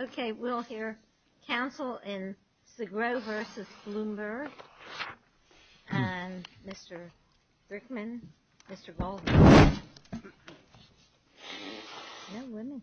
Okay, we'll hear counsel in Sgro v. Bloomberg, and Mr. Brickman, Mr. Goldberg. Neal Brickman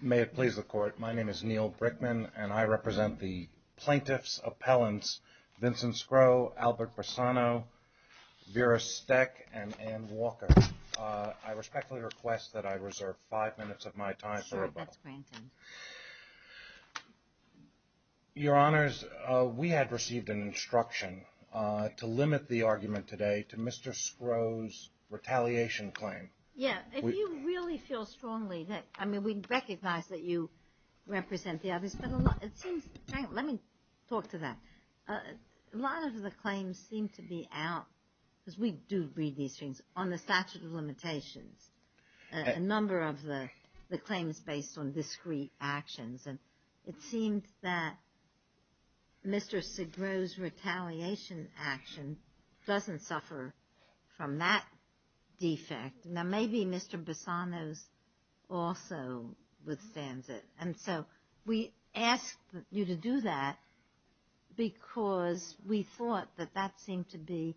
May it please the court, my name is Neal Brickman and I represent the plaintiff's appellants, Vincent Sgro, Albert Brassano, Vera Steck, and Anne Walker. I respectfully request that I reserve five minutes of my time for rebuttal. Anne Walker Sure, that's granted. Neal Brickman Your Honors, we had received an instruction to limit the argument today to Mr. Sgro's retaliation claim. Anne Walker Yeah, if you really feel strongly that, I mean, we recognize that you represent the others, but it seems, let me talk to that. A lot of the claims seem to be out, because we do read these things, on the statute of limitations, a number of the claims based on discrete actions. And it seems that Mr. Sgro's retaliation action doesn't suffer from that defect. Now, maybe Mr. Brassano's also withstands it. And so, we ask you to do that, because we thought that that seemed to be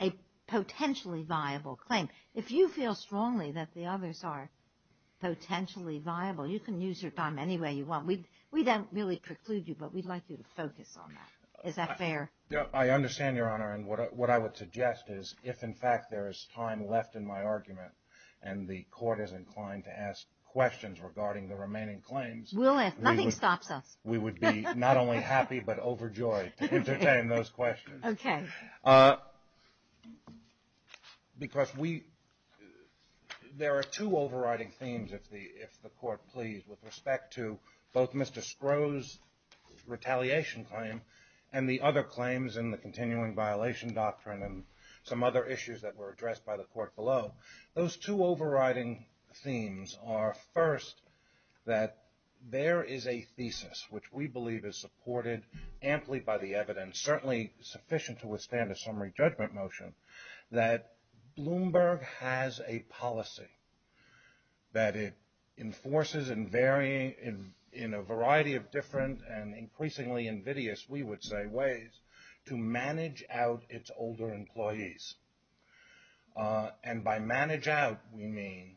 a potentially viable claim. If you feel strongly that the others are potentially viable, you can use your time any way you want. We don't really preclude you, but we'd like you to focus on that. Is that fair? Neal Brickman Yeah, I understand, Your Honor. And what I would suggest is, if in fact there is time left in my argument, and the court is inclined to ask questions regarding the remaining claims, we would be not only happy, but overjoyed to entertain those questions. Because there are two overriding themes, if the court please, with respect to both Mr. Sgro's retaliation claim, and the other claims in the continuing violation doctrine, and some other issues that were addressed by the court below. Those two first, that there is a thesis, which we believe is supported amply by the evidence, certainly sufficient to withstand a summary judgment motion, that Bloomberg has a policy that it enforces in varying, in a variety of different and increasingly invidious, we would say, ways to manage out its older employees. And by manage out, we mean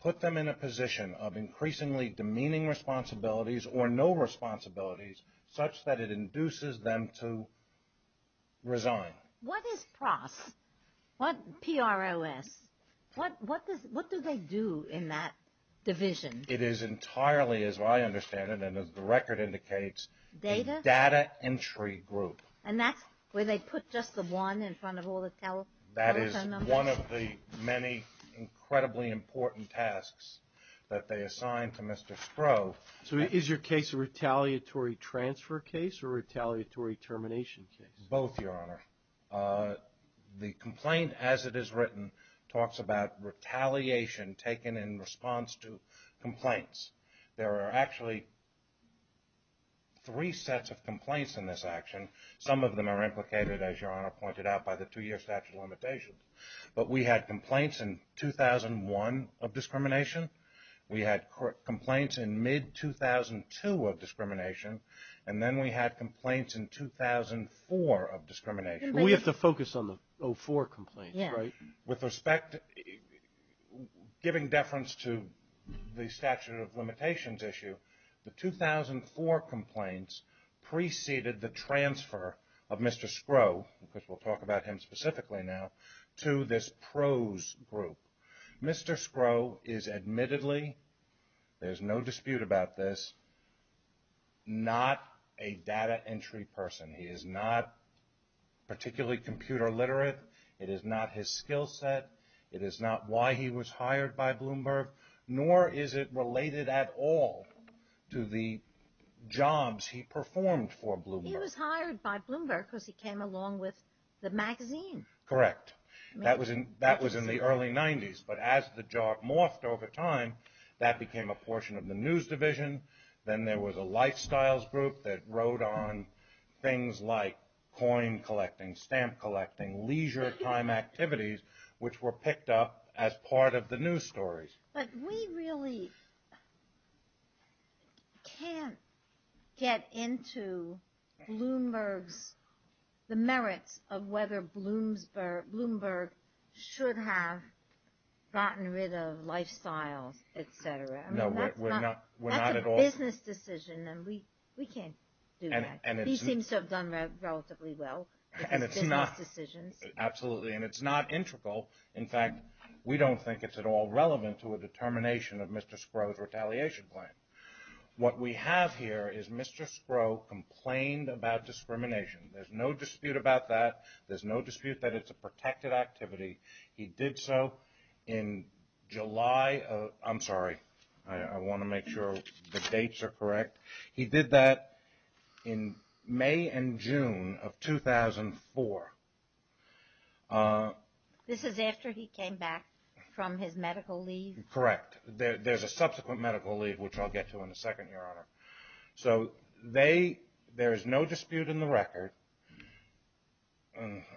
put them in a position of increasingly demeaning responsibilities, or no responsibilities, such that it induces them to resign. Judy Woodruff What is PROS? What do they do in that division? Neal Brickman It is entirely, as I understand it, and as the record indicates, a data entry group. Judy Woodruff And that's where they put just the one in front of all the telephone numbers? Neal Brickman That is one of the many incredibly important tasks that they assign to Mr. Sprow. Judy Woodruff So is your case a retaliatory transfer case or a retaliatory termination case? Neal Brickman Both, Your Honor. The complaint, as it is written, talks about retaliation taken in response to complaints. There are actually three sets of complaints in this action. Some of them are implicated, as Your Honor pointed out, by the two-year statute of limitations. But we had complaints in 2001 of discrimination. We had complaints in mid-2002 of discrimination. And then we had complaints in 2004 of discrimination. Judy Woodruff We have to focus on the 04 complaints, right? Neal Brickman With respect, giving deference to the statute of limitations issue, the 2004 complaints preceded the transfer of Mr. Sprow, because we'll talk about him specifically now, to this prose group. Mr. Sprow is admittedly, there's no dispute about this, not a data entry person. He is not particularly computer literate. It is not his skill set. It is not why he was hired by Bloomberg, nor is it related at all to Bloomberg. Judy Woodruff He was hired by Bloomberg because he came along with the magazine. Neal Brickman Correct. That was in the early 90s. But as the job morphed over time, that became a portion of the news division. Then there was a lifestyles group that wrote on things like coin collecting, stamp collecting, leisure time activities, which were picked up as part of the news stories. Judy Woodruff But we really can't get into Bloomberg's, the merits of whether Bloomberg should have gotten rid of lifestyles, et cetera. That's a business decision, and we can't do that. He seems to have done relatively well with his business decisions. Neal Brickman of Mr. Sprow's retaliation plan. What we have here is Mr. Sprow complained about discrimination. There's no dispute about that. There's no dispute that it's a protected activity. He did so in July. I'm sorry. I want to make sure the dates are correct. He did that in May and June of 2004. Judy Woodruff This is after he came back from his medical leave? Neal Brickman Correct. There's a subsequent medical leave, which I'll get to in a second, Your Honor. There's no dispute in the record.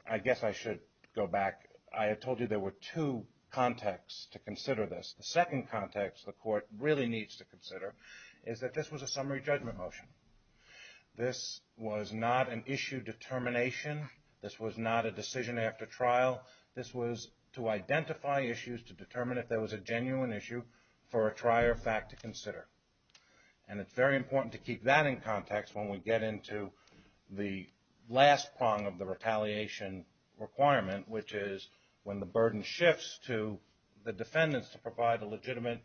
I guess I should go back. I had told you there were two contexts to consider this. The second context the court really needs to consider is that this was a summary judgment motion. This was not an issue determination. This was not a decision after trial. This was to identify issues to determine if there was a genuine issue for a trier fact to consider. It's very important to keep that in context when we get into the last prong of the retaliation requirement, which is when the burden shifts to the defendants to provide a legitimate,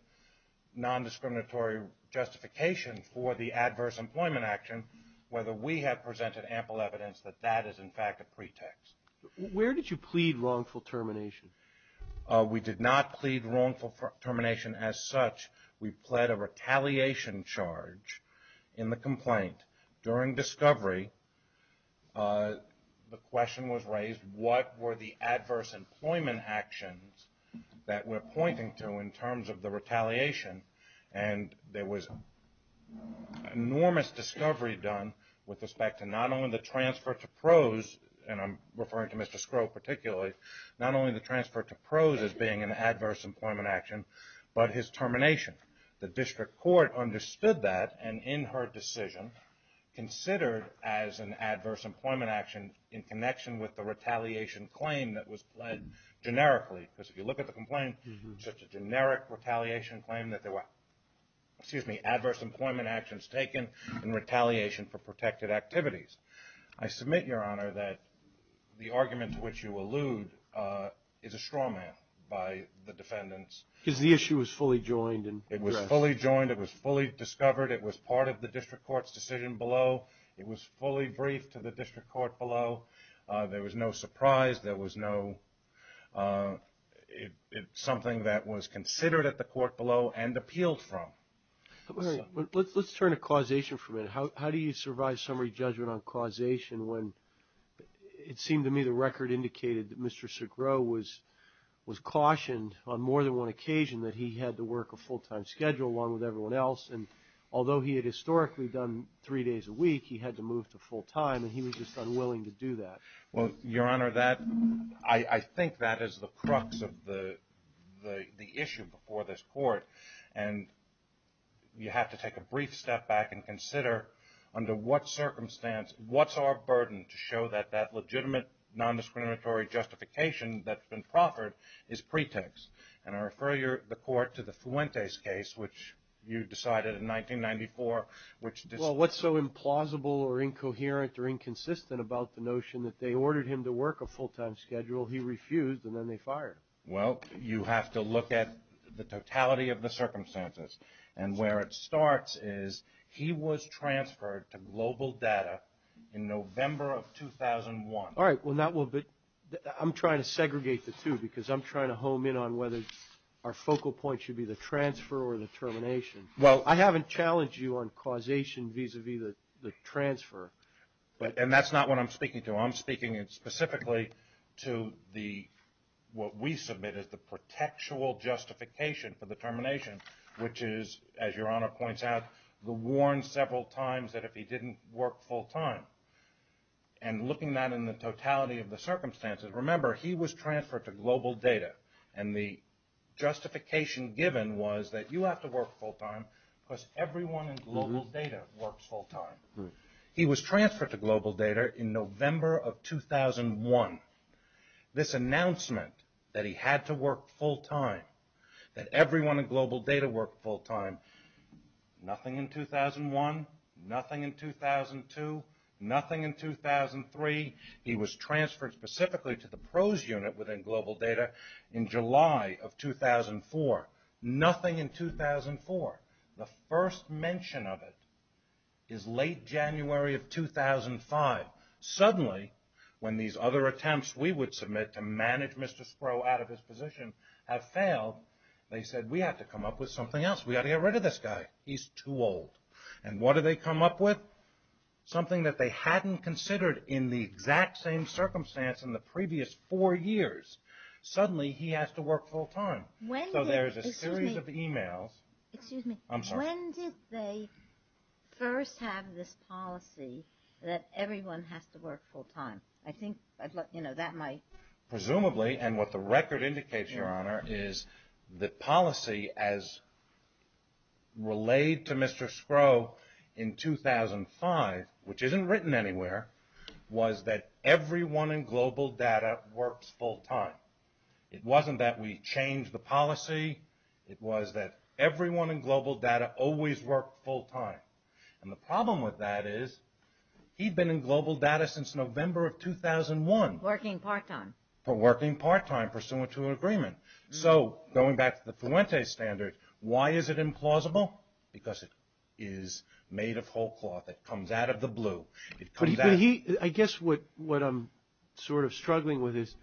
nondiscriminatory justification for the adverse employment action, whether we have presented ample evidence that that is, in fact, a pretext. Judy Woodruff Where did you plead wrongful termination? Neal Brickman We did not plead wrongful termination as such. We pled a retaliation charge in the complaint. During discovery, the question was raised, what were the adverse employment actions that we're pointing to in terms of the retaliation? And there was enormous discovery done with respect to not only the transfer to pros, and I'm referring to Mr. Scrow particularly, not only the transfer to pros as being an adverse employment action, but his termination. The district court understood that and in her decision considered as an adverse employment action in connection with the look at the complaint, such a generic retaliation claim that there were adverse employment actions taken in retaliation for protected activities. I submit, Your Honor, that the argument to which you allude is a straw man by the defendants. Judy Woodruff Because the issue was fully joined. Neal Brickman It was fully joined. It was fully discovered. It was part of the district court's decision below. It was fully briefed to the district court below. There was no surprise. There was no something that was considered at the court below and appealed from. Judy Woodruff Let's turn to causation for a minute. How do you survive summary judgment on causation when it seemed to me the record indicated that Mr. Scrow was cautioned on more than one occasion that he had to work a full-time schedule along with everyone else, and although he had historically done three days a week, he had to move to full-time Well, Your Honor, I think that is the crux of the issue before this court, and you have to take a brief step back and consider under what circumstance, what's our burden to show that that legitimate nondiscriminatory justification that's been proffered is pretext. And I refer the court to the Fuentes case, which you decided in 1994, which Well, what's so implausible or incoherent or inconsistent about the notion that they ordered him to work a full-time schedule, he refused, and then they fired him. Well, you have to look at the totality of the circumstances. And where it starts is he was transferred to Global Data in November of 2001. All right. Well, now I'm trying to segregate the two because I'm trying to home in on whether our focal point should be the transfer or the termination. Well, I haven't challenged you on causation vis-a-vis the transfer, and that's not what I'm speaking to. I'm speaking specifically to what we submit as the pretextual justification for the termination, which is, as Your Honor points out, the warn several times that if he didn't work full-time. And looking at that in the totality of the circumstances, remember, he was transferred to Global Data, and the justification given was that you have to work full-time because everyone in Global Data works full-time. He was transferred to Global Data in November of 2001. This announcement that he had to work full-time, that everyone in Global Data worked full-time, nothing in 2001, nothing in 2002, nothing in 2003. He was transferred specifically to the PROS Unit within Global Data in July of 2004, nothing in 2004. The first mention of it is late January of 2005. Suddenly, when these other attempts we would submit to manage Mr. Sproul out of his position have failed, they said, we have to come up with something else. We've got to get rid of this guy. He's too old. And what did they come up with? Something that they hadn't considered in the exact same circumstance in the previous four years. Suddenly, he has to work full-time. So there's a series of emails. Excuse me. I'm sorry. When did they first have this policy that everyone has to work full-time? I think that might... Presumably, and what the record indicates, Your Honor, is the policy as relayed to Mr. Sproul in 2005, which isn't written anywhere, was that everyone in Global Data works full-time. It wasn't that we changed the policy. It was that everyone in Global Data always worked full-time. And the problem with that is, he'd been in Global Data since November of 2001. Working part-time. For working part-time pursuant to an agreement. So going back to the Fuente standard, why is it implausible? Because it is made of whole cloth. It comes out of the blue. I guess what I'm sort of struggling with is,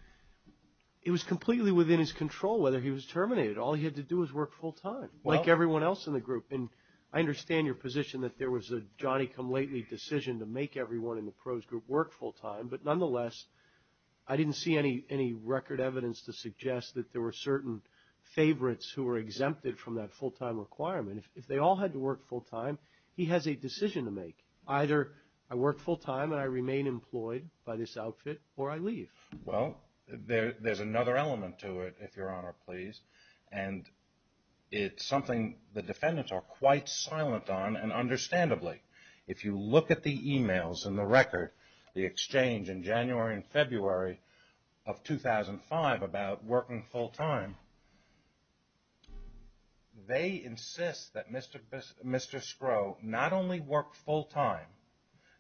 it was completely within his control, whether he was terminated. All he had to do was work full-time, like everyone else in the group. And I understand your position that there was a Johnny-come-lately decision to make everyone in the pros group work full-time. But nonetheless, I didn't see any record evidence to suggest that there were certain favorites who were exempted from that full-time requirement. If they all had to work full-time, he has a decision to make. Either I work full-time and I remain employed by this outfit, or I leave. Well, there's another element to it, if Your Honor please. And it's something the defendants are quite silent on, and understandably. If you look at the emails and the record, the exchange in January and February of 2005 about working full-time, they insist that Mr. Scrowe not only work full-time,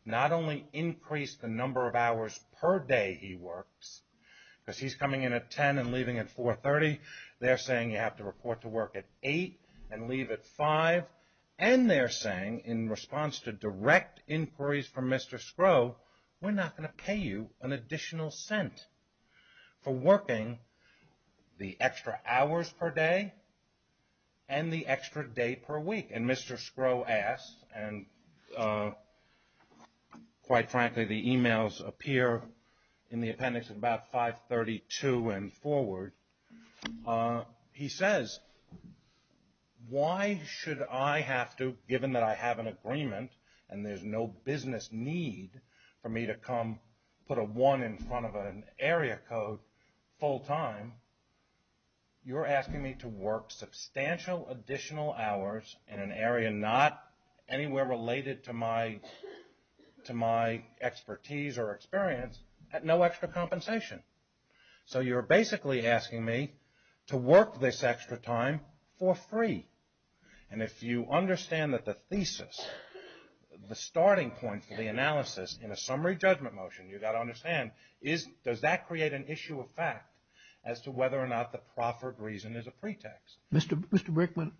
not only increase the number of hours per day he works, because he's coming in at 10 and leaving at 4.30, they're saying you have to report to work at 8 and leave at 5. And they're saying, in response to direct inquiries from Mr. Scrowe, we're not going to pay you an additional cent for working the extra hours per day, and the extra day per week. And Mr. Scrowe asks, and quite frankly, the emails appear in the appendix at about 5.32 and forward. He says, why should I have to, given that I have an agreement and there's no business need for me to come put a one in front of an area code full-time, you're asking me to work substantial additional hours in an area not anywhere related to my expertise or experience at no extra compensation. So you're basically asking me to work this extra time for free. And if you understand that the thesis, the starting point for the analysis in a summary judgment motion, you've got to understand, does that create an issue of fact as to whether or not the profit reason is a pretext? Mr. Brickman,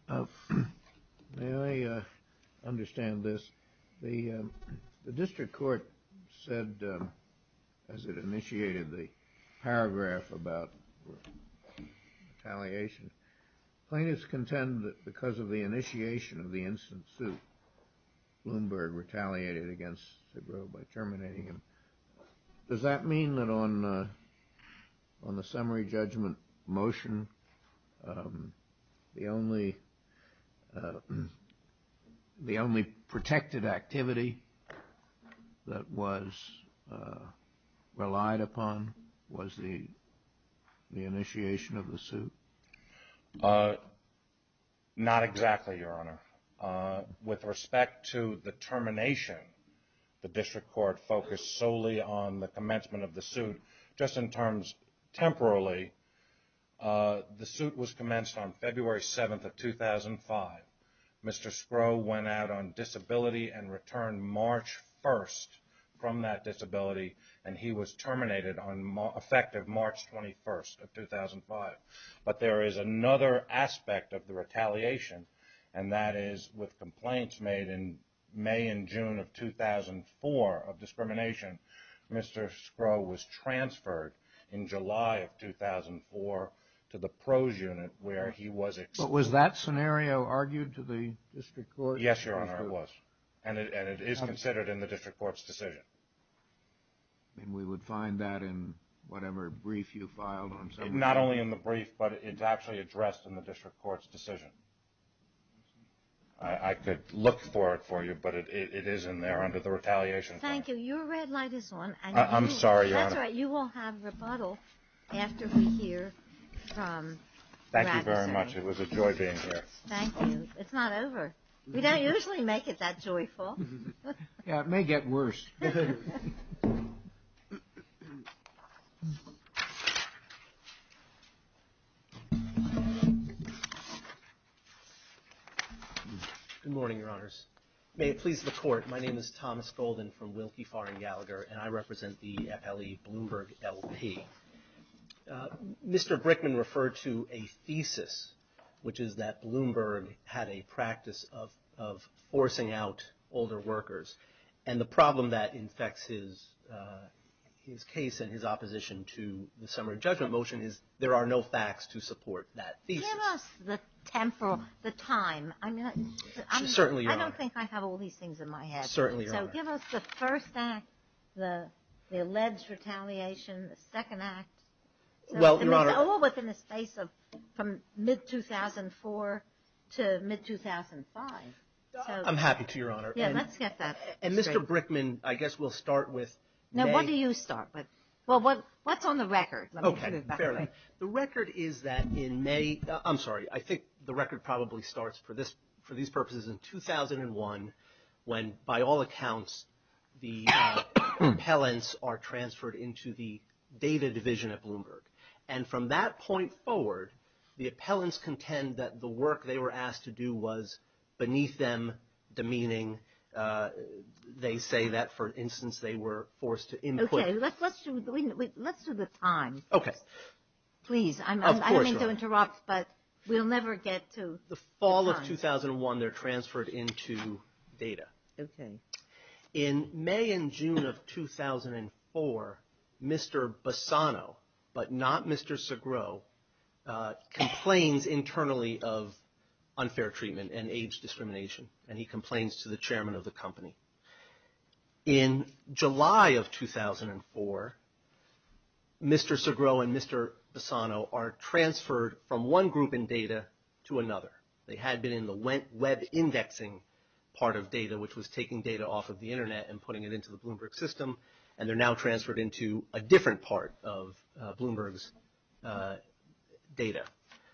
may I understand this? The district court said, as it initiated the paragraph about retaliation, plaintiffs contend that because of the initiation of the instant suit, Bloomberg retaliated against Scrowe by terminating him. Does that mean that on the summary judgment motion, the only protected activity that was relied upon was the suit? Not exactly, Your Honor. With respect to the termination, the district court focused solely on the commencement of the suit. Just in terms, temporarily, the suit was commenced on February 7th of 2005. Mr. Scrowe went out on disability and returned March 1st from that disability, and he was terminated on effective March 21st of 2005. But there is another aspect of the retaliation, and that is with complaints made in May and June of 2004 of discrimination, Mr. Scrowe was transferred in July of 2004 to the pros unit where he was... But was that scenario argued to the district court? Yes, Your Honor, it was. And it is considered in the district court's decision. And we would find that in whatever brief you filed on... Not only in the brief, but it's actually addressed in the district court's decision. I could look for it for you, but it is in there under the retaliation... Thank you. Your red light is on. I'm sorry, Your Honor. You will have rebuttal after we hear from... Thank you very much. It was a joy being here. Thank you. It's not over. We don't usually make it that joyful. Yeah, it may get worse. Good morning, Your Honors. May it please the court, my name is Thomas Golden from Wilkie, Farr, and Gallagher, and I represent the FLE Bloomberg LP. Mr. Brickman referred to a thesis, which is that Bloomberg had a practice of forcing out older workers. And the problem that infects his case and his opposition to the summary judgment motion is there are no facts to support that thesis. Give us the temporal, the time. I don't think I have all these things in my head. Certainly, Your Honor. So give us the first act, the alleged retaliation, the second act. Well, Your Honor... All within the space of from mid-2004 to mid-2005. I'm happy to, Your Honor. Yeah, let's get that. And Mr. Brickman, I guess we'll start with... Now, what do you start with? Well, what's on the record? Okay, fair enough. The record is that in May, I'm sorry, I think the record probably starts for these purposes in 2001, when by all accounts, the appellants are transferred into the data division at Bloomberg. And from that point forward, the appellants contend that the work they were asked to do was beneath them, demeaning. They say that, for instance, they were forced to... Okay, let's do the time. Okay. Please, I don't mean to interrupt, but we'll never get to the time. The fall of 2001, they're transferred into data. Okay. In May and June of 2004, Mr. Bassano, but not Mr. Segreau, complains internally of unfair treatment and age discrimination, and he complains to the chairman of the company. In July of 2004, Mr. Segreau and Mr. Bassano are transferred from one group in data to another. They had been in the web indexing part of data, which was taking data off of the internet and putting it into the Bloomberg system, and they're now transferred into a different part of Bloomberg's data.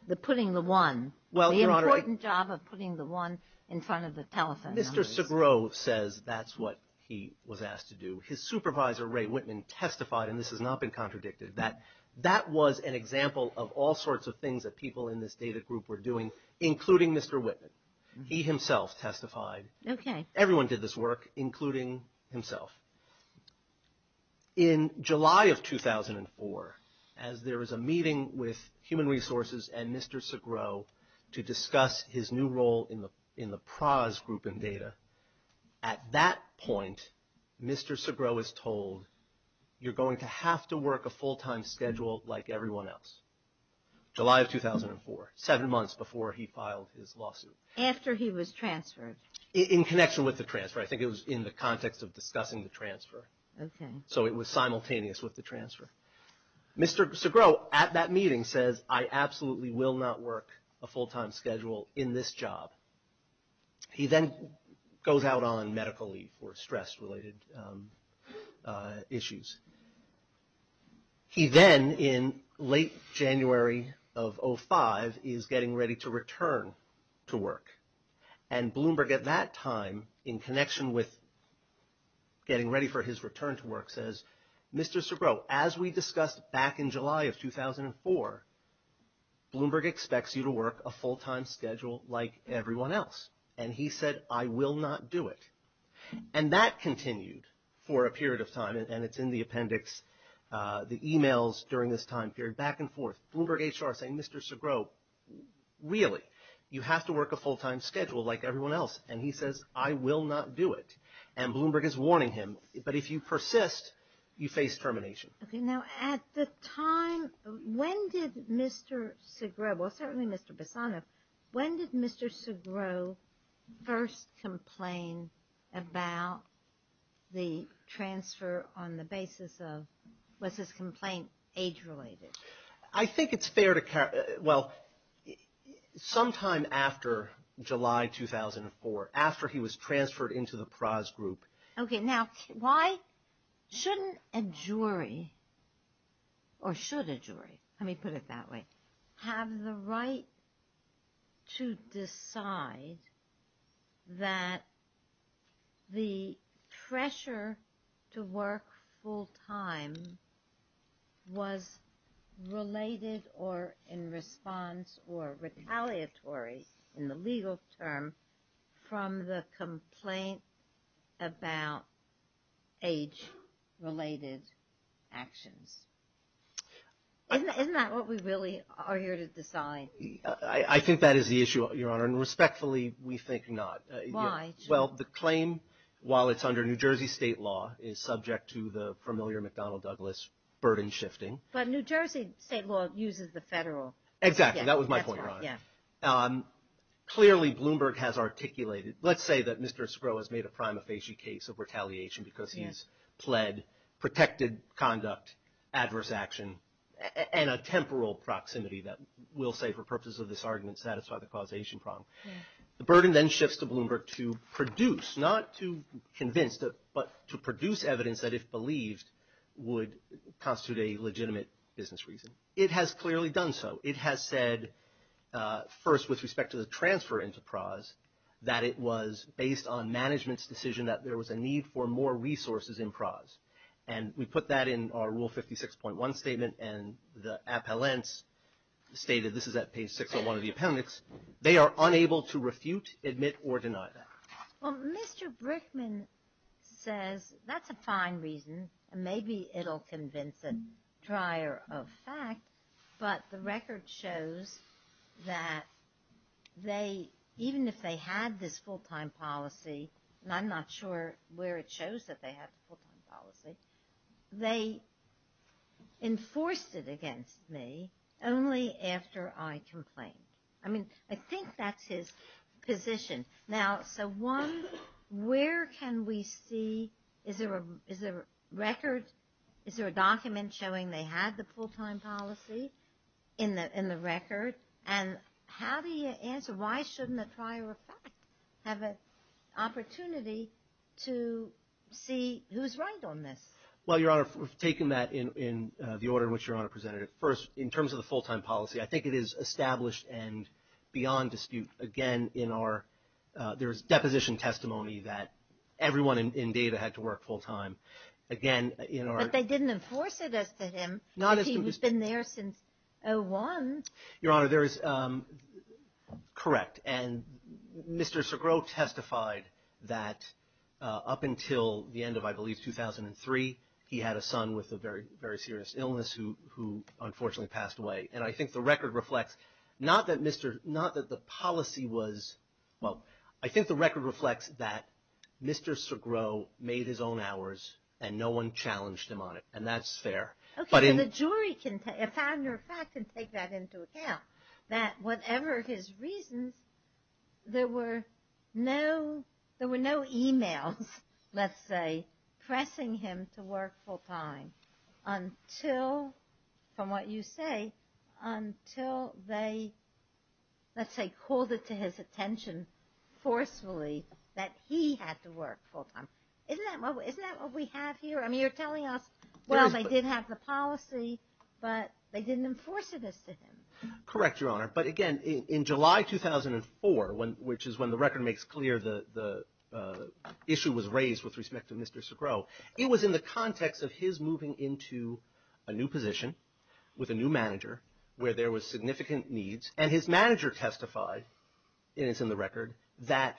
The putting the one, the important job of putting the one in front of the telephone. Mr. Segreau says that's what he was asked to do. His supervisor, Ray Whitman, testified, and this has not been contradicted, that that was an example of all sorts of things that people in Mr. Whitman, he himself testified. Okay. Everyone did this work, including himself. In July of 2004, as there was a meeting with human resources and Mr. Segreau to discuss his new role in the PRAS group in data, at that point, Mr. Segreau is told, you're going to have to work a full time schedule like everyone else. July of 2004, seven months before he filed his lawsuit. After he was transferred. In connection with the transfer. I think it was in the context of discussing the transfer. Okay. So it was simultaneous with the transfer. Mr. Segreau at that meeting says, I absolutely will not work a full time schedule in this job. He then goes out on medical leave for stress related issues. He then, in late January of 05, is getting ready to return to work. And Bloomberg at that time, in connection with getting ready for his return to work, says, Mr. Segreau, as we discussed back in July of 2004, Bloomberg expects you to work a full time schedule like everyone else. And he said, I will not do it. And that continued for a period of time. And it's in the appendix, the emails during this time period, back and forth. Bloomberg HR saying, Mr. Segreau, really? You have to work a full time schedule like everyone else. And he says, I will not do it. And Bloomberg is warning him. But if you persist, you face termination. Okay. Now, at the time, when did Mr. Segreau, well, certainly Mr. Bassano, when did Mr. Segreau first complain about the transfer on the basis of, was his complaint age related? I think it's fair to, well, sometime after July 2004, after he was transferred into the pros group. Okay. Now, why shouldn't a jury, or should a jury, let me put it that way, have the right to decide that the pressure to work full time was related or in response or retaliatory in the legal term from the complaint about age related actions? Isn't that what we really are here to decide? I think that is the issue, Your Honor. And respectfully, we think not. Why? Well, the claim, while it's under New Jersey state law, is subject to the familiar McDonnell Douglas burden shifting. But New Jersey state law uses the federal. Exactly. That was my point, Your Honor. Clearly, Bloomberg has articulated, let's say that Mr. Segreau has made a prima facie case of retaliation because he's pled protected conduct, adverse action, and a temporal proximity that will say, for purposes of this argument, satisfy the causation problem. The burden then shifts to Bloomberg to produce, not to convince, but to produce evidence that, if believed, would constitute a legitimate business reason. It has clearly done so. It has said, first, with respect to the transfer into pros, that it was based on management's decision that there was a need for more resources in pros. And we put that in our Rule 56.1 statement. And the appellants stated, this is at page 601 of the appendix, they are unable to refute, admit, or deny that. Well, Mr. Brickman says that's a fine reason. Maybe it'll convince a dryer of fact. But the record shows that they, even if they had this full-time policy, and I'm not sure where it shows that they had the full-time policy, they enforced it against me only after I complained. I mean, I think that's his position. Now, so one, where can we see, is there a record, is there a document showing they had the full-time policy in the record? And how do you answer, why shouldn't a dryer of fact have an opportunity to see who's right on this? Well, Your Honor, we've taken that in the order in which Your Honor presented it. First, in terms of the full-time policy, I think it is established and beyond dispute. Again, there's deposition testimony that everyone in data had to work full-time. Again, in our- But they didn't enforce it as to him. Not as to him. He's been there since 01. Your Honor, there is, correct. And Mr. Segrost testified that up until the end of, I believe, 2003, he had a son with a very, very serious illness who unfortunately passed away. And I think the record reflects, not that Mr., not that the policy was, well, I think the record reflects that Mr. Segrost made his own hours and no one challenged him on it. And that's fair. Okay, but the jury can, a founder of fact, can take that into account, that whatever his reasons, there were no emails, let's say, pressing him to work full-time until, from what you say, until they, let's say, called it to his attention forcefully that he had to work full-time. Isn't that what we have here? I mean, you're telling us, well, they did have the policy, but they didn't enforce it as to him. Correct, Your Honor. But again, in July 2004, which is when the record makes clear the issue was raised with respect to Mr. Segrost, it was in the context of his moving into a new position with a new manager where there was significant needs, and his manager testified, and it's in the record, that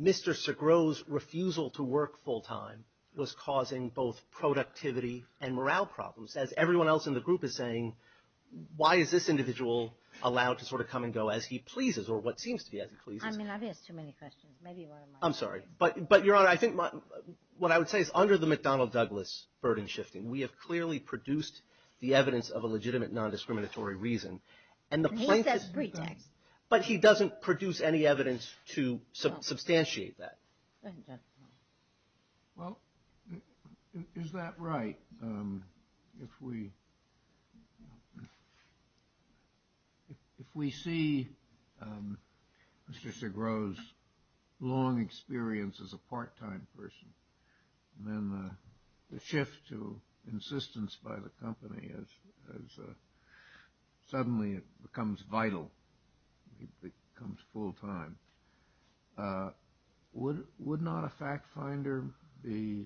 Mr. Segrost's refusal to work full-time was causing both productivity and morale problems, as everyone else in the group is saying, why is this individual allowed to sort of come and go as he pleases, or what seems to be as he pleases? I mean, I've asked too many questions. Maybe one of my colleagues. I'm sorry. But Your Honor, I think what I would say is, under the McDonnell-Douglas burden shifting, we have clearly produced the evidence of a legitimate non-discriminatory reason. And he says pretext. But he doesn't produce any evidence to substantiate that. Well, is that right? If we see Mr. Segrost's long experience as a part-time person, and then the shift to insistence by the company as suddenly it becomes vital, it becomes full-time, then would not a fact finder be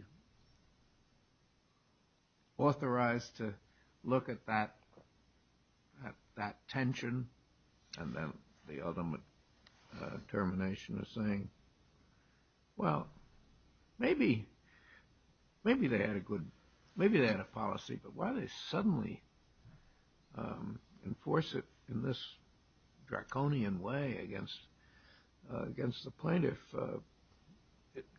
authorized to look at that tension? And then the ultimate termination of saying, well, maybe they had a good, maybe they had a policy, but why did they suddenly enforce it in this draconian way against the plaintiff?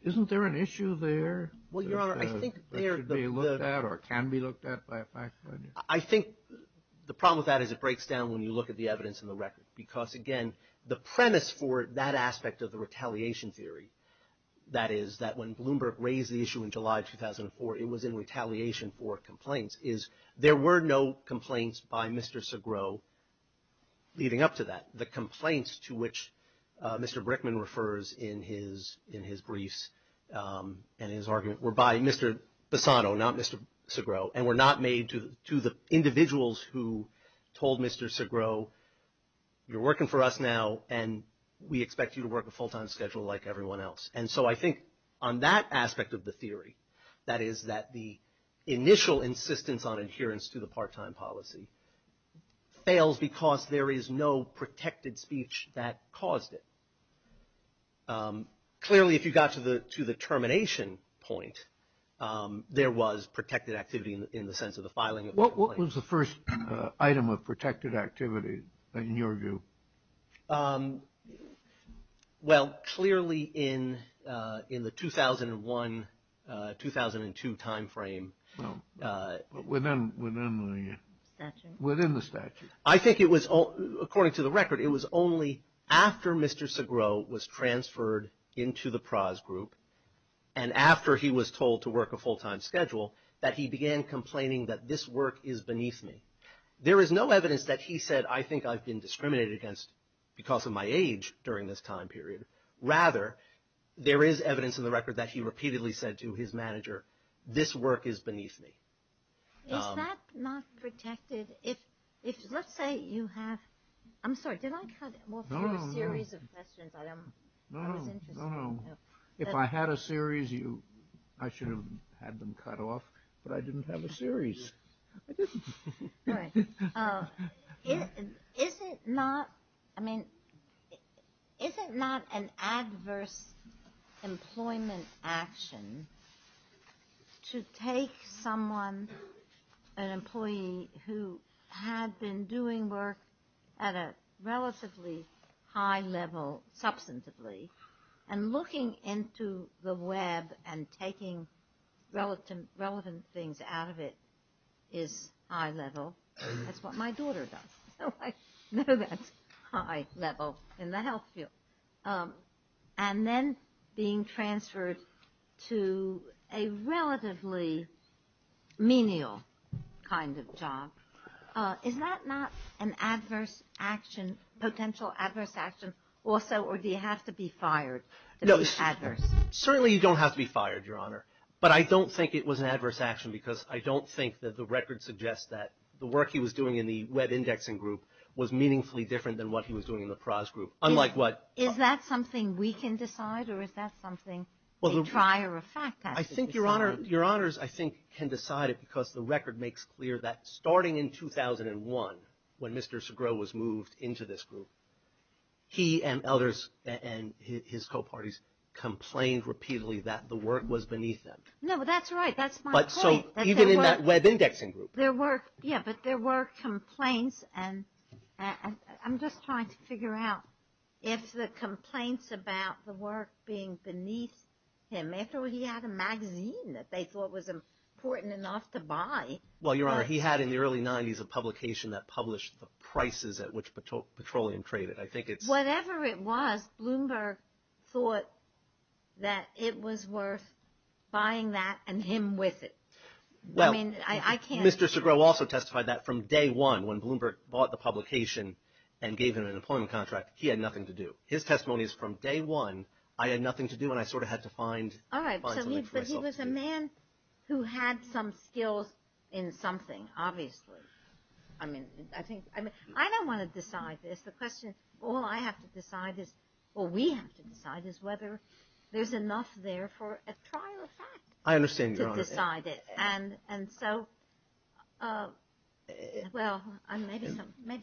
Isn't there an issue there that should be looked at or can be looked at by a fact finder? I think the problem with that is it breaks down when you look at the evidence in the record. Because again, the premise for that aspect of the retaliation theory, that is, that when Bloomberg raised the issue in July 2004, it was in retaliation for complaints, is there were no complaints by Mr. Segrost leading up to that. The complaints to which Mr. Brickman refers in his briefs and his argument were by Mr. Bassano, not Mr. Segrost, and were not made to the individuals who told Mr. Segrost, you're working for us now, and we expect you to work a full-time schedule like everyone else. And so I think on that aspect of the theory, that is, that the initial insistence on adherence to the part-time policy fails because there is no protected speech that caused it. Clearly, if you got to the termination point, there was protected activity in the sense of the filing. What was the first item of protected activity in your view? Well, clearly in the 2001-2002 time frame. No, within the statute. I think it was, according to the record, it was only after Mr. Segrost was transferred into the pros group and after he was told to work a full-time schedule that he began complaining that this work is beneath me. There is no evidence that he said, I think I've been discriminated against because of my age during this time period. Rather, there is evidence in the record that he repeatedly said to his manager, this work is beneath me. Is that not protected? Let's say you have, I'm sorry, did I cut off your series of questions? I don't know, I was interested. No, no, no. If I had a series, I should have had them cut off, but I didn't have a series. Is it not, I mean, is it not an adverse employment action to take someone, an employee who had been doing work at a relatively high level substantively and looking into the web and taking relevant things out of it is high level? That's what my daughter does, so I know that's high level in the health field. And then being transferred to a relatively menial kind of job. Is that not an adverse action, potential adverse action also, or do you have to be fired to be adverse? Certainly you don't have to be fired, Your Honor, but I don't think it was an adverse action because I don't think that the record suggests that the work he was doing in the web indexing group was meaningfully different than what he was doing in the pros group, unlike what... Is that something we can decide or is that something a prior effect? I think Your Honor, Your Honors, I think can decide it because the record makes clear that starting in 2001 when Mr. Segrost was moved into this group, he and others and his co-parties complained repeatedly that the work was beneath them. No, that's right. That's my point. So even in that web indexing group. There were, yeah, but there were complaints and I'm just trying to figure out if the complaints about the work being beneath him. After all, he had a magazine that they thought was important enough to buy. Well, Your Honor, he had in the early 90s a publication that published the prices at which petroleum traded. I think it's... Whatever it was, Bloomberg thought that it was worth buying that and him with it. Well, Mr. Segrost also testified that from day one when Bloomberg bought the publication and gave him an employment contract, he had nothing to do. His testimony is from day one, I had nothing to do and I sort of had to find something for myself to do. All right, but he was a man who had some skills in something, obviously. I mean, I think, I don't want to decide this. The question, all I have to decide is, well, we have to decide is whether there's enough there for a prior effect. I understand, Your Honor. To decide it. And so, well, maybe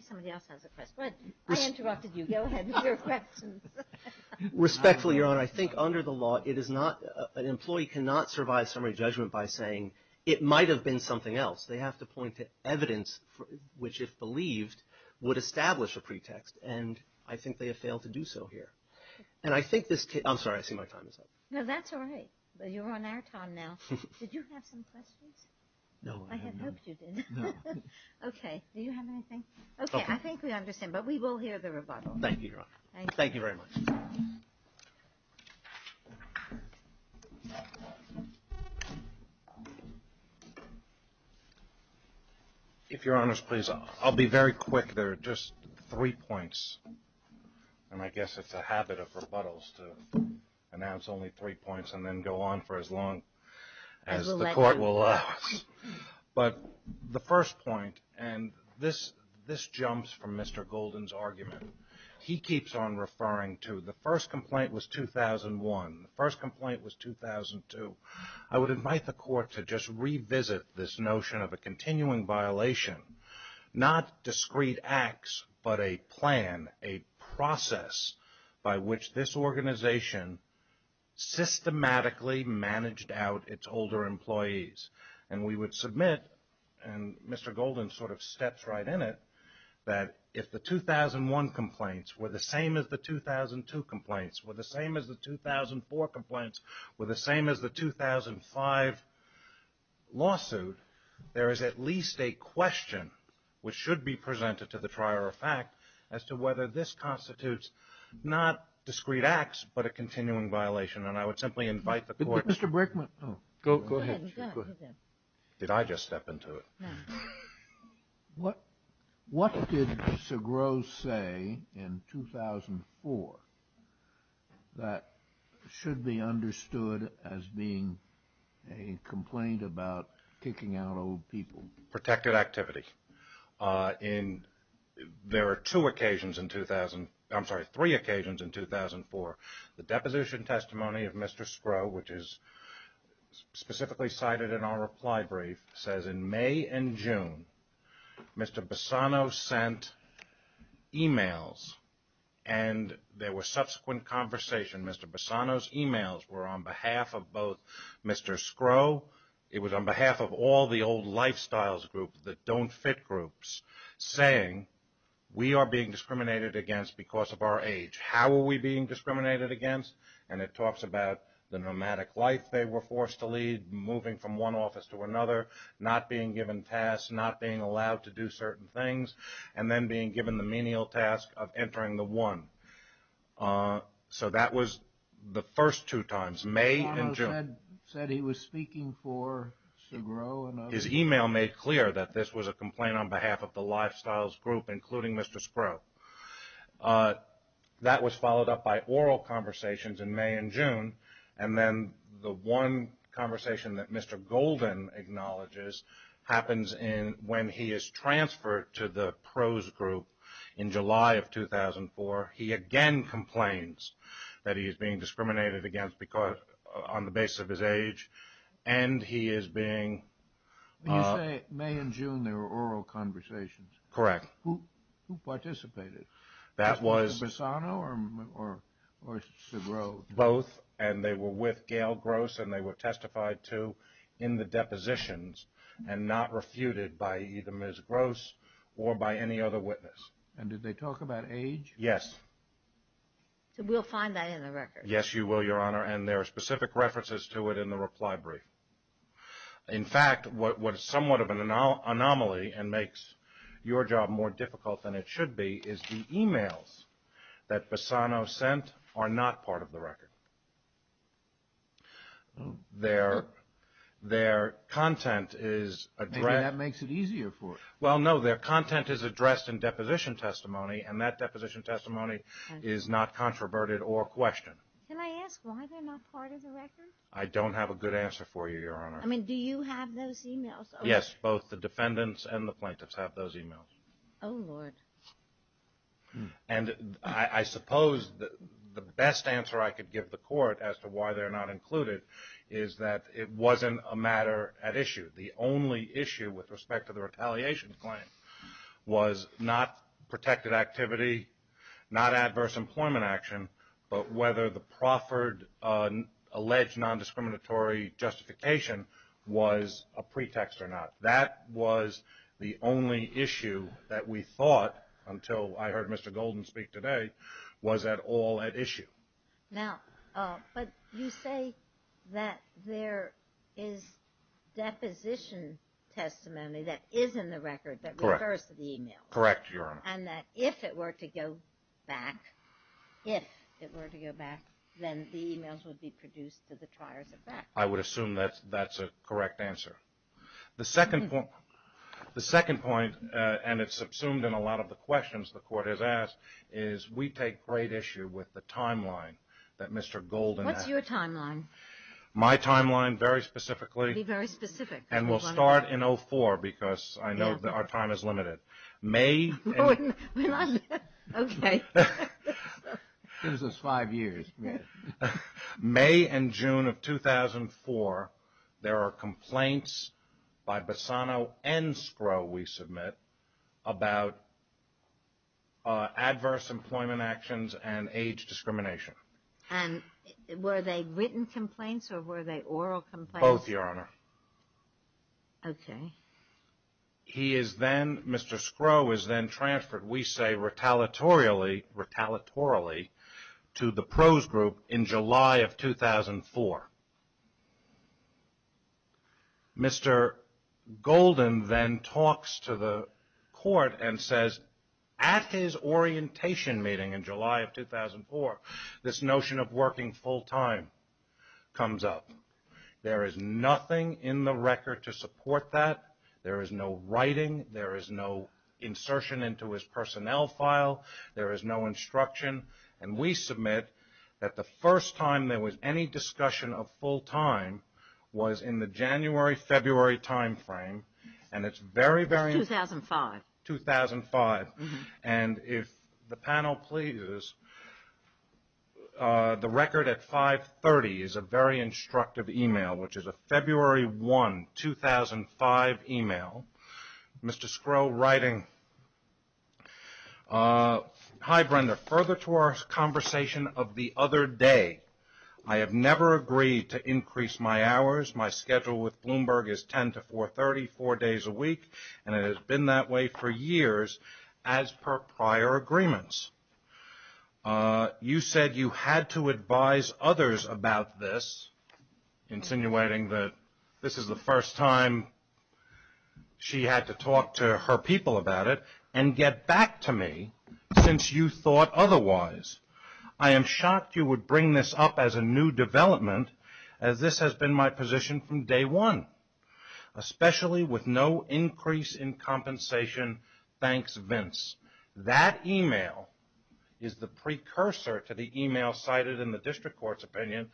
somebody else has a question. I interrupted you. Go ahead with your questions. Respectfully, Your Honor, I think under the law, an employee cannot survive summary judgment by saying it might have been something else. They have to point to evidence, which if believed, would establish a pretext and I think they have failed to do so here. And I think this case... I'm sorry, I see my time is up. No, that's all right. You're on our time now. Did you have some questions? No, I have none. I had hoped you did. Okay, do you have anything? Okay, I think we understand, but we will hear the rebuttal. Thank you, Your Honor. Thank you very much. If Your Honor's please, I'll be very quick. There are just three points and I guess it's a habit of rebuttals to announce only three points and then go on for as long as the court will allow us. But the first point, and this jumps from Mr. Golden's argument, he keeps on referring to the first complaint was 2001, the first complaint was 2002. I would invite the court to just revisit this notion of a continuing violation, not discrete acts, but a plan, a process by which this organization systematically managed out its older employees. And we would submit, and Mr. Golden sort of steps right in it, that if the 2001 complaints were the same as the 2002 complaints, were the same as the 2004 complaints, were the same as the 2005 lawsuit, there is at least a question which should be presented to the trier of fact as to whether this constitutes not discrete acts, but a continuing violation. And I would simply invite the court- Mr. Brickman. Oh, go ahead. Did I just step into it? What did Segros say in 2004 that should be understood as being a complaint about kicking out old people? Protected activity. There are two occasions in 2000, I'm sorry, three occasions in 2004 the deposition testimony of Mr. Skro, which is specifically cited in our reply brief, says in May and June, Mr. Bassano sent emails and there were subsequent conversation. Mr. Bassano's emails were on behalf of both Mr. Skro, it was on behalf of all the old Lifestyles group that don't fit groups, saying we are being discriminated against because of our age. How are we being discriminated against? And it talks about the nomadic life they were forced to lead, moving from one office to another, not being given tasks, not being allowed to do certain things, and then being given the menial task of entering the one. So that was the first two times, May and June. Bassano said he was speaking for Segros. His email made clear that this was a complaint on behalf of the Lifestyles group, including Mr. Skro. That was followed up by oral conversations in May and June, and then the one conversation that Mr. Golden acknowledges happens when he is transferred to the Pros group in July of 2004. He again complains that he is being discriminated against because on the basis of his age, and he is being... When you say May and June, they were oral conversations. Correct. Who participated? That was... Bassano or Segros? Both, and they were with Gail Gross, and they were testified to in the depositions, and not refuted by either Ms. Gross or by any other witness. And did they talk about age? Yes. So we'll find that in the record. Yes, you will, Your Honor, and there are specific references to it in the reply brief. In fact, what is somewhat of an anomaly and makes your job more difficult than it should be is the emails that Bassano sent are not part of the record. Their content is addressed... Maybe that makes it easier for us. Well, no, their content is addressed in deposition testimony, and that deposition testimony is not controverted or questioned. Can I ask why they're not part of the record? I don't have a good answer for you, Your Honor. I mean, do you have those emails? Yes, both the defendants and the plaintiffs have those emails. Oh, Lord. And I suppose the best answer I could give the court as to why they're not included is that it wasn't a matter at issue. The only issue with respect to the retaliation claim was not protected activity, not adverse employment action, but whether the proffered alleged non-discriminatory justification was a pretext or not. That was the only issue that we thought, until I heard Mr. Golden speak today, was at all at issue. Now, but you say that there is deposition testimony that is in the record that refers to the email. Correct, Your Honor. And that if it were to go back, if it were to go back, then the emails would be produced to the triars at bat. I would assume that's a correct answer. The second point, and it's subsumed in a lot of the questions the court has asked, is we take great issue with the timeline that Mr. Golden has. What's your timeline? My timeline, very specifically. Be very specific. And we'll start in 04 because I know that our time is limited. May. Okay. Gives us five years. May and June of 2004, there are complaints by Bassano and Scrow, we submit, about adverse employment actions and age discrimination. And were they written complaints or were they oral complaints? Both, Your Honor. Okay. He is then, Mr. Scrow is then transferred, we say, retaliatorily, retaliatorily to the pros group in July of 2004. Mr. Golden then talks to the court and says, at his orientation meeting in July of 2004, this notion of working full-time comes up. There is nothing in the record to support that. There is no writing. There is no insertion into his personnel file. There is no instruction. And we submit that the first time there was any discussion of full-time was in the January-February time frame. And it's very, very- 2005. 2005. And if the panel pleases, the record at 5.30 is a very instructive email, which is a February 1, 2005 email. Mr. Scrow writing, Hi, Brenda. Further to our conversation of the other day, I have never agreed to increase my hours. My schedule with Bloomberg is 10 to 4.30, four days a week. And it has been that way for years as per prior agreements. You said you had to advise others about this, insinuating that this is the first time she had to talk to her people about it and get back to me since you thought otherwise. I am shocked you would bring this up as a new development as this has been my position from day one, especially with no increase in compensation. Thanks, Vince. That email is the precursor to the email cited in the district court's opinion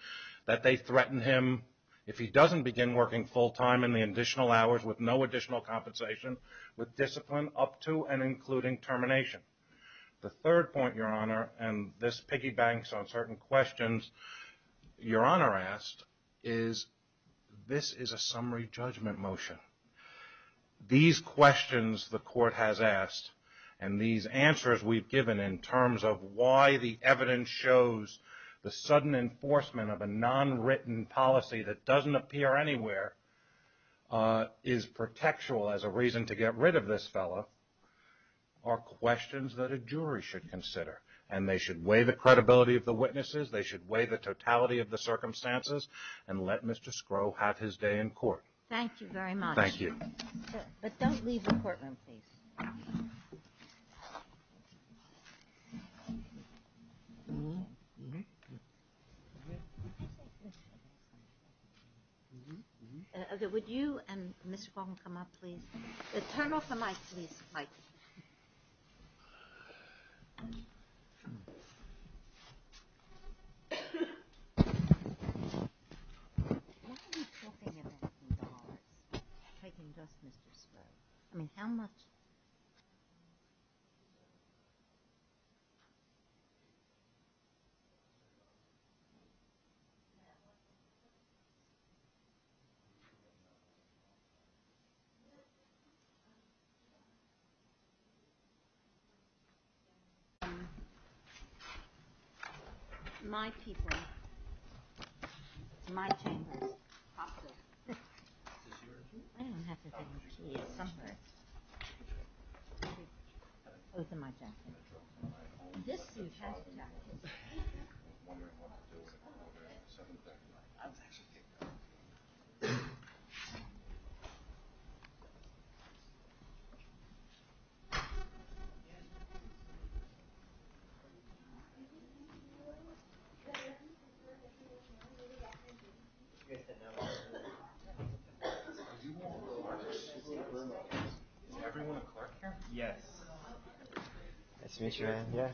that they threaten him if he doesn't begin working full-time with no additional compensation with discipline up to and including termination. The third point, Your Honor, and this piggy banks on certain questions Your Honor asked, is this is a summary judgment motion. These questions the court has asked and these answers we've given in terms of why the evidence shows the sudden enforcement of a non-written policy that doesn't appear anywhere is protectual as a reason to get rid of this fellow are questions that a jury should consider. They should weigh the credibility of the witnesses. They should weigh the totality of the circumstances and let Mr. Scrow have his day in court. Thank you very much. Thank you. But don't leave the courtroom, please. Would you and Ms. Fong come up, please? Turn off the mic, please, Mike. Why are you talking about the dollars? You're taking just Mr. Scrow. I mean, how much? Is everyone Clark here? Yes. Nice to meet you, man. Yeah.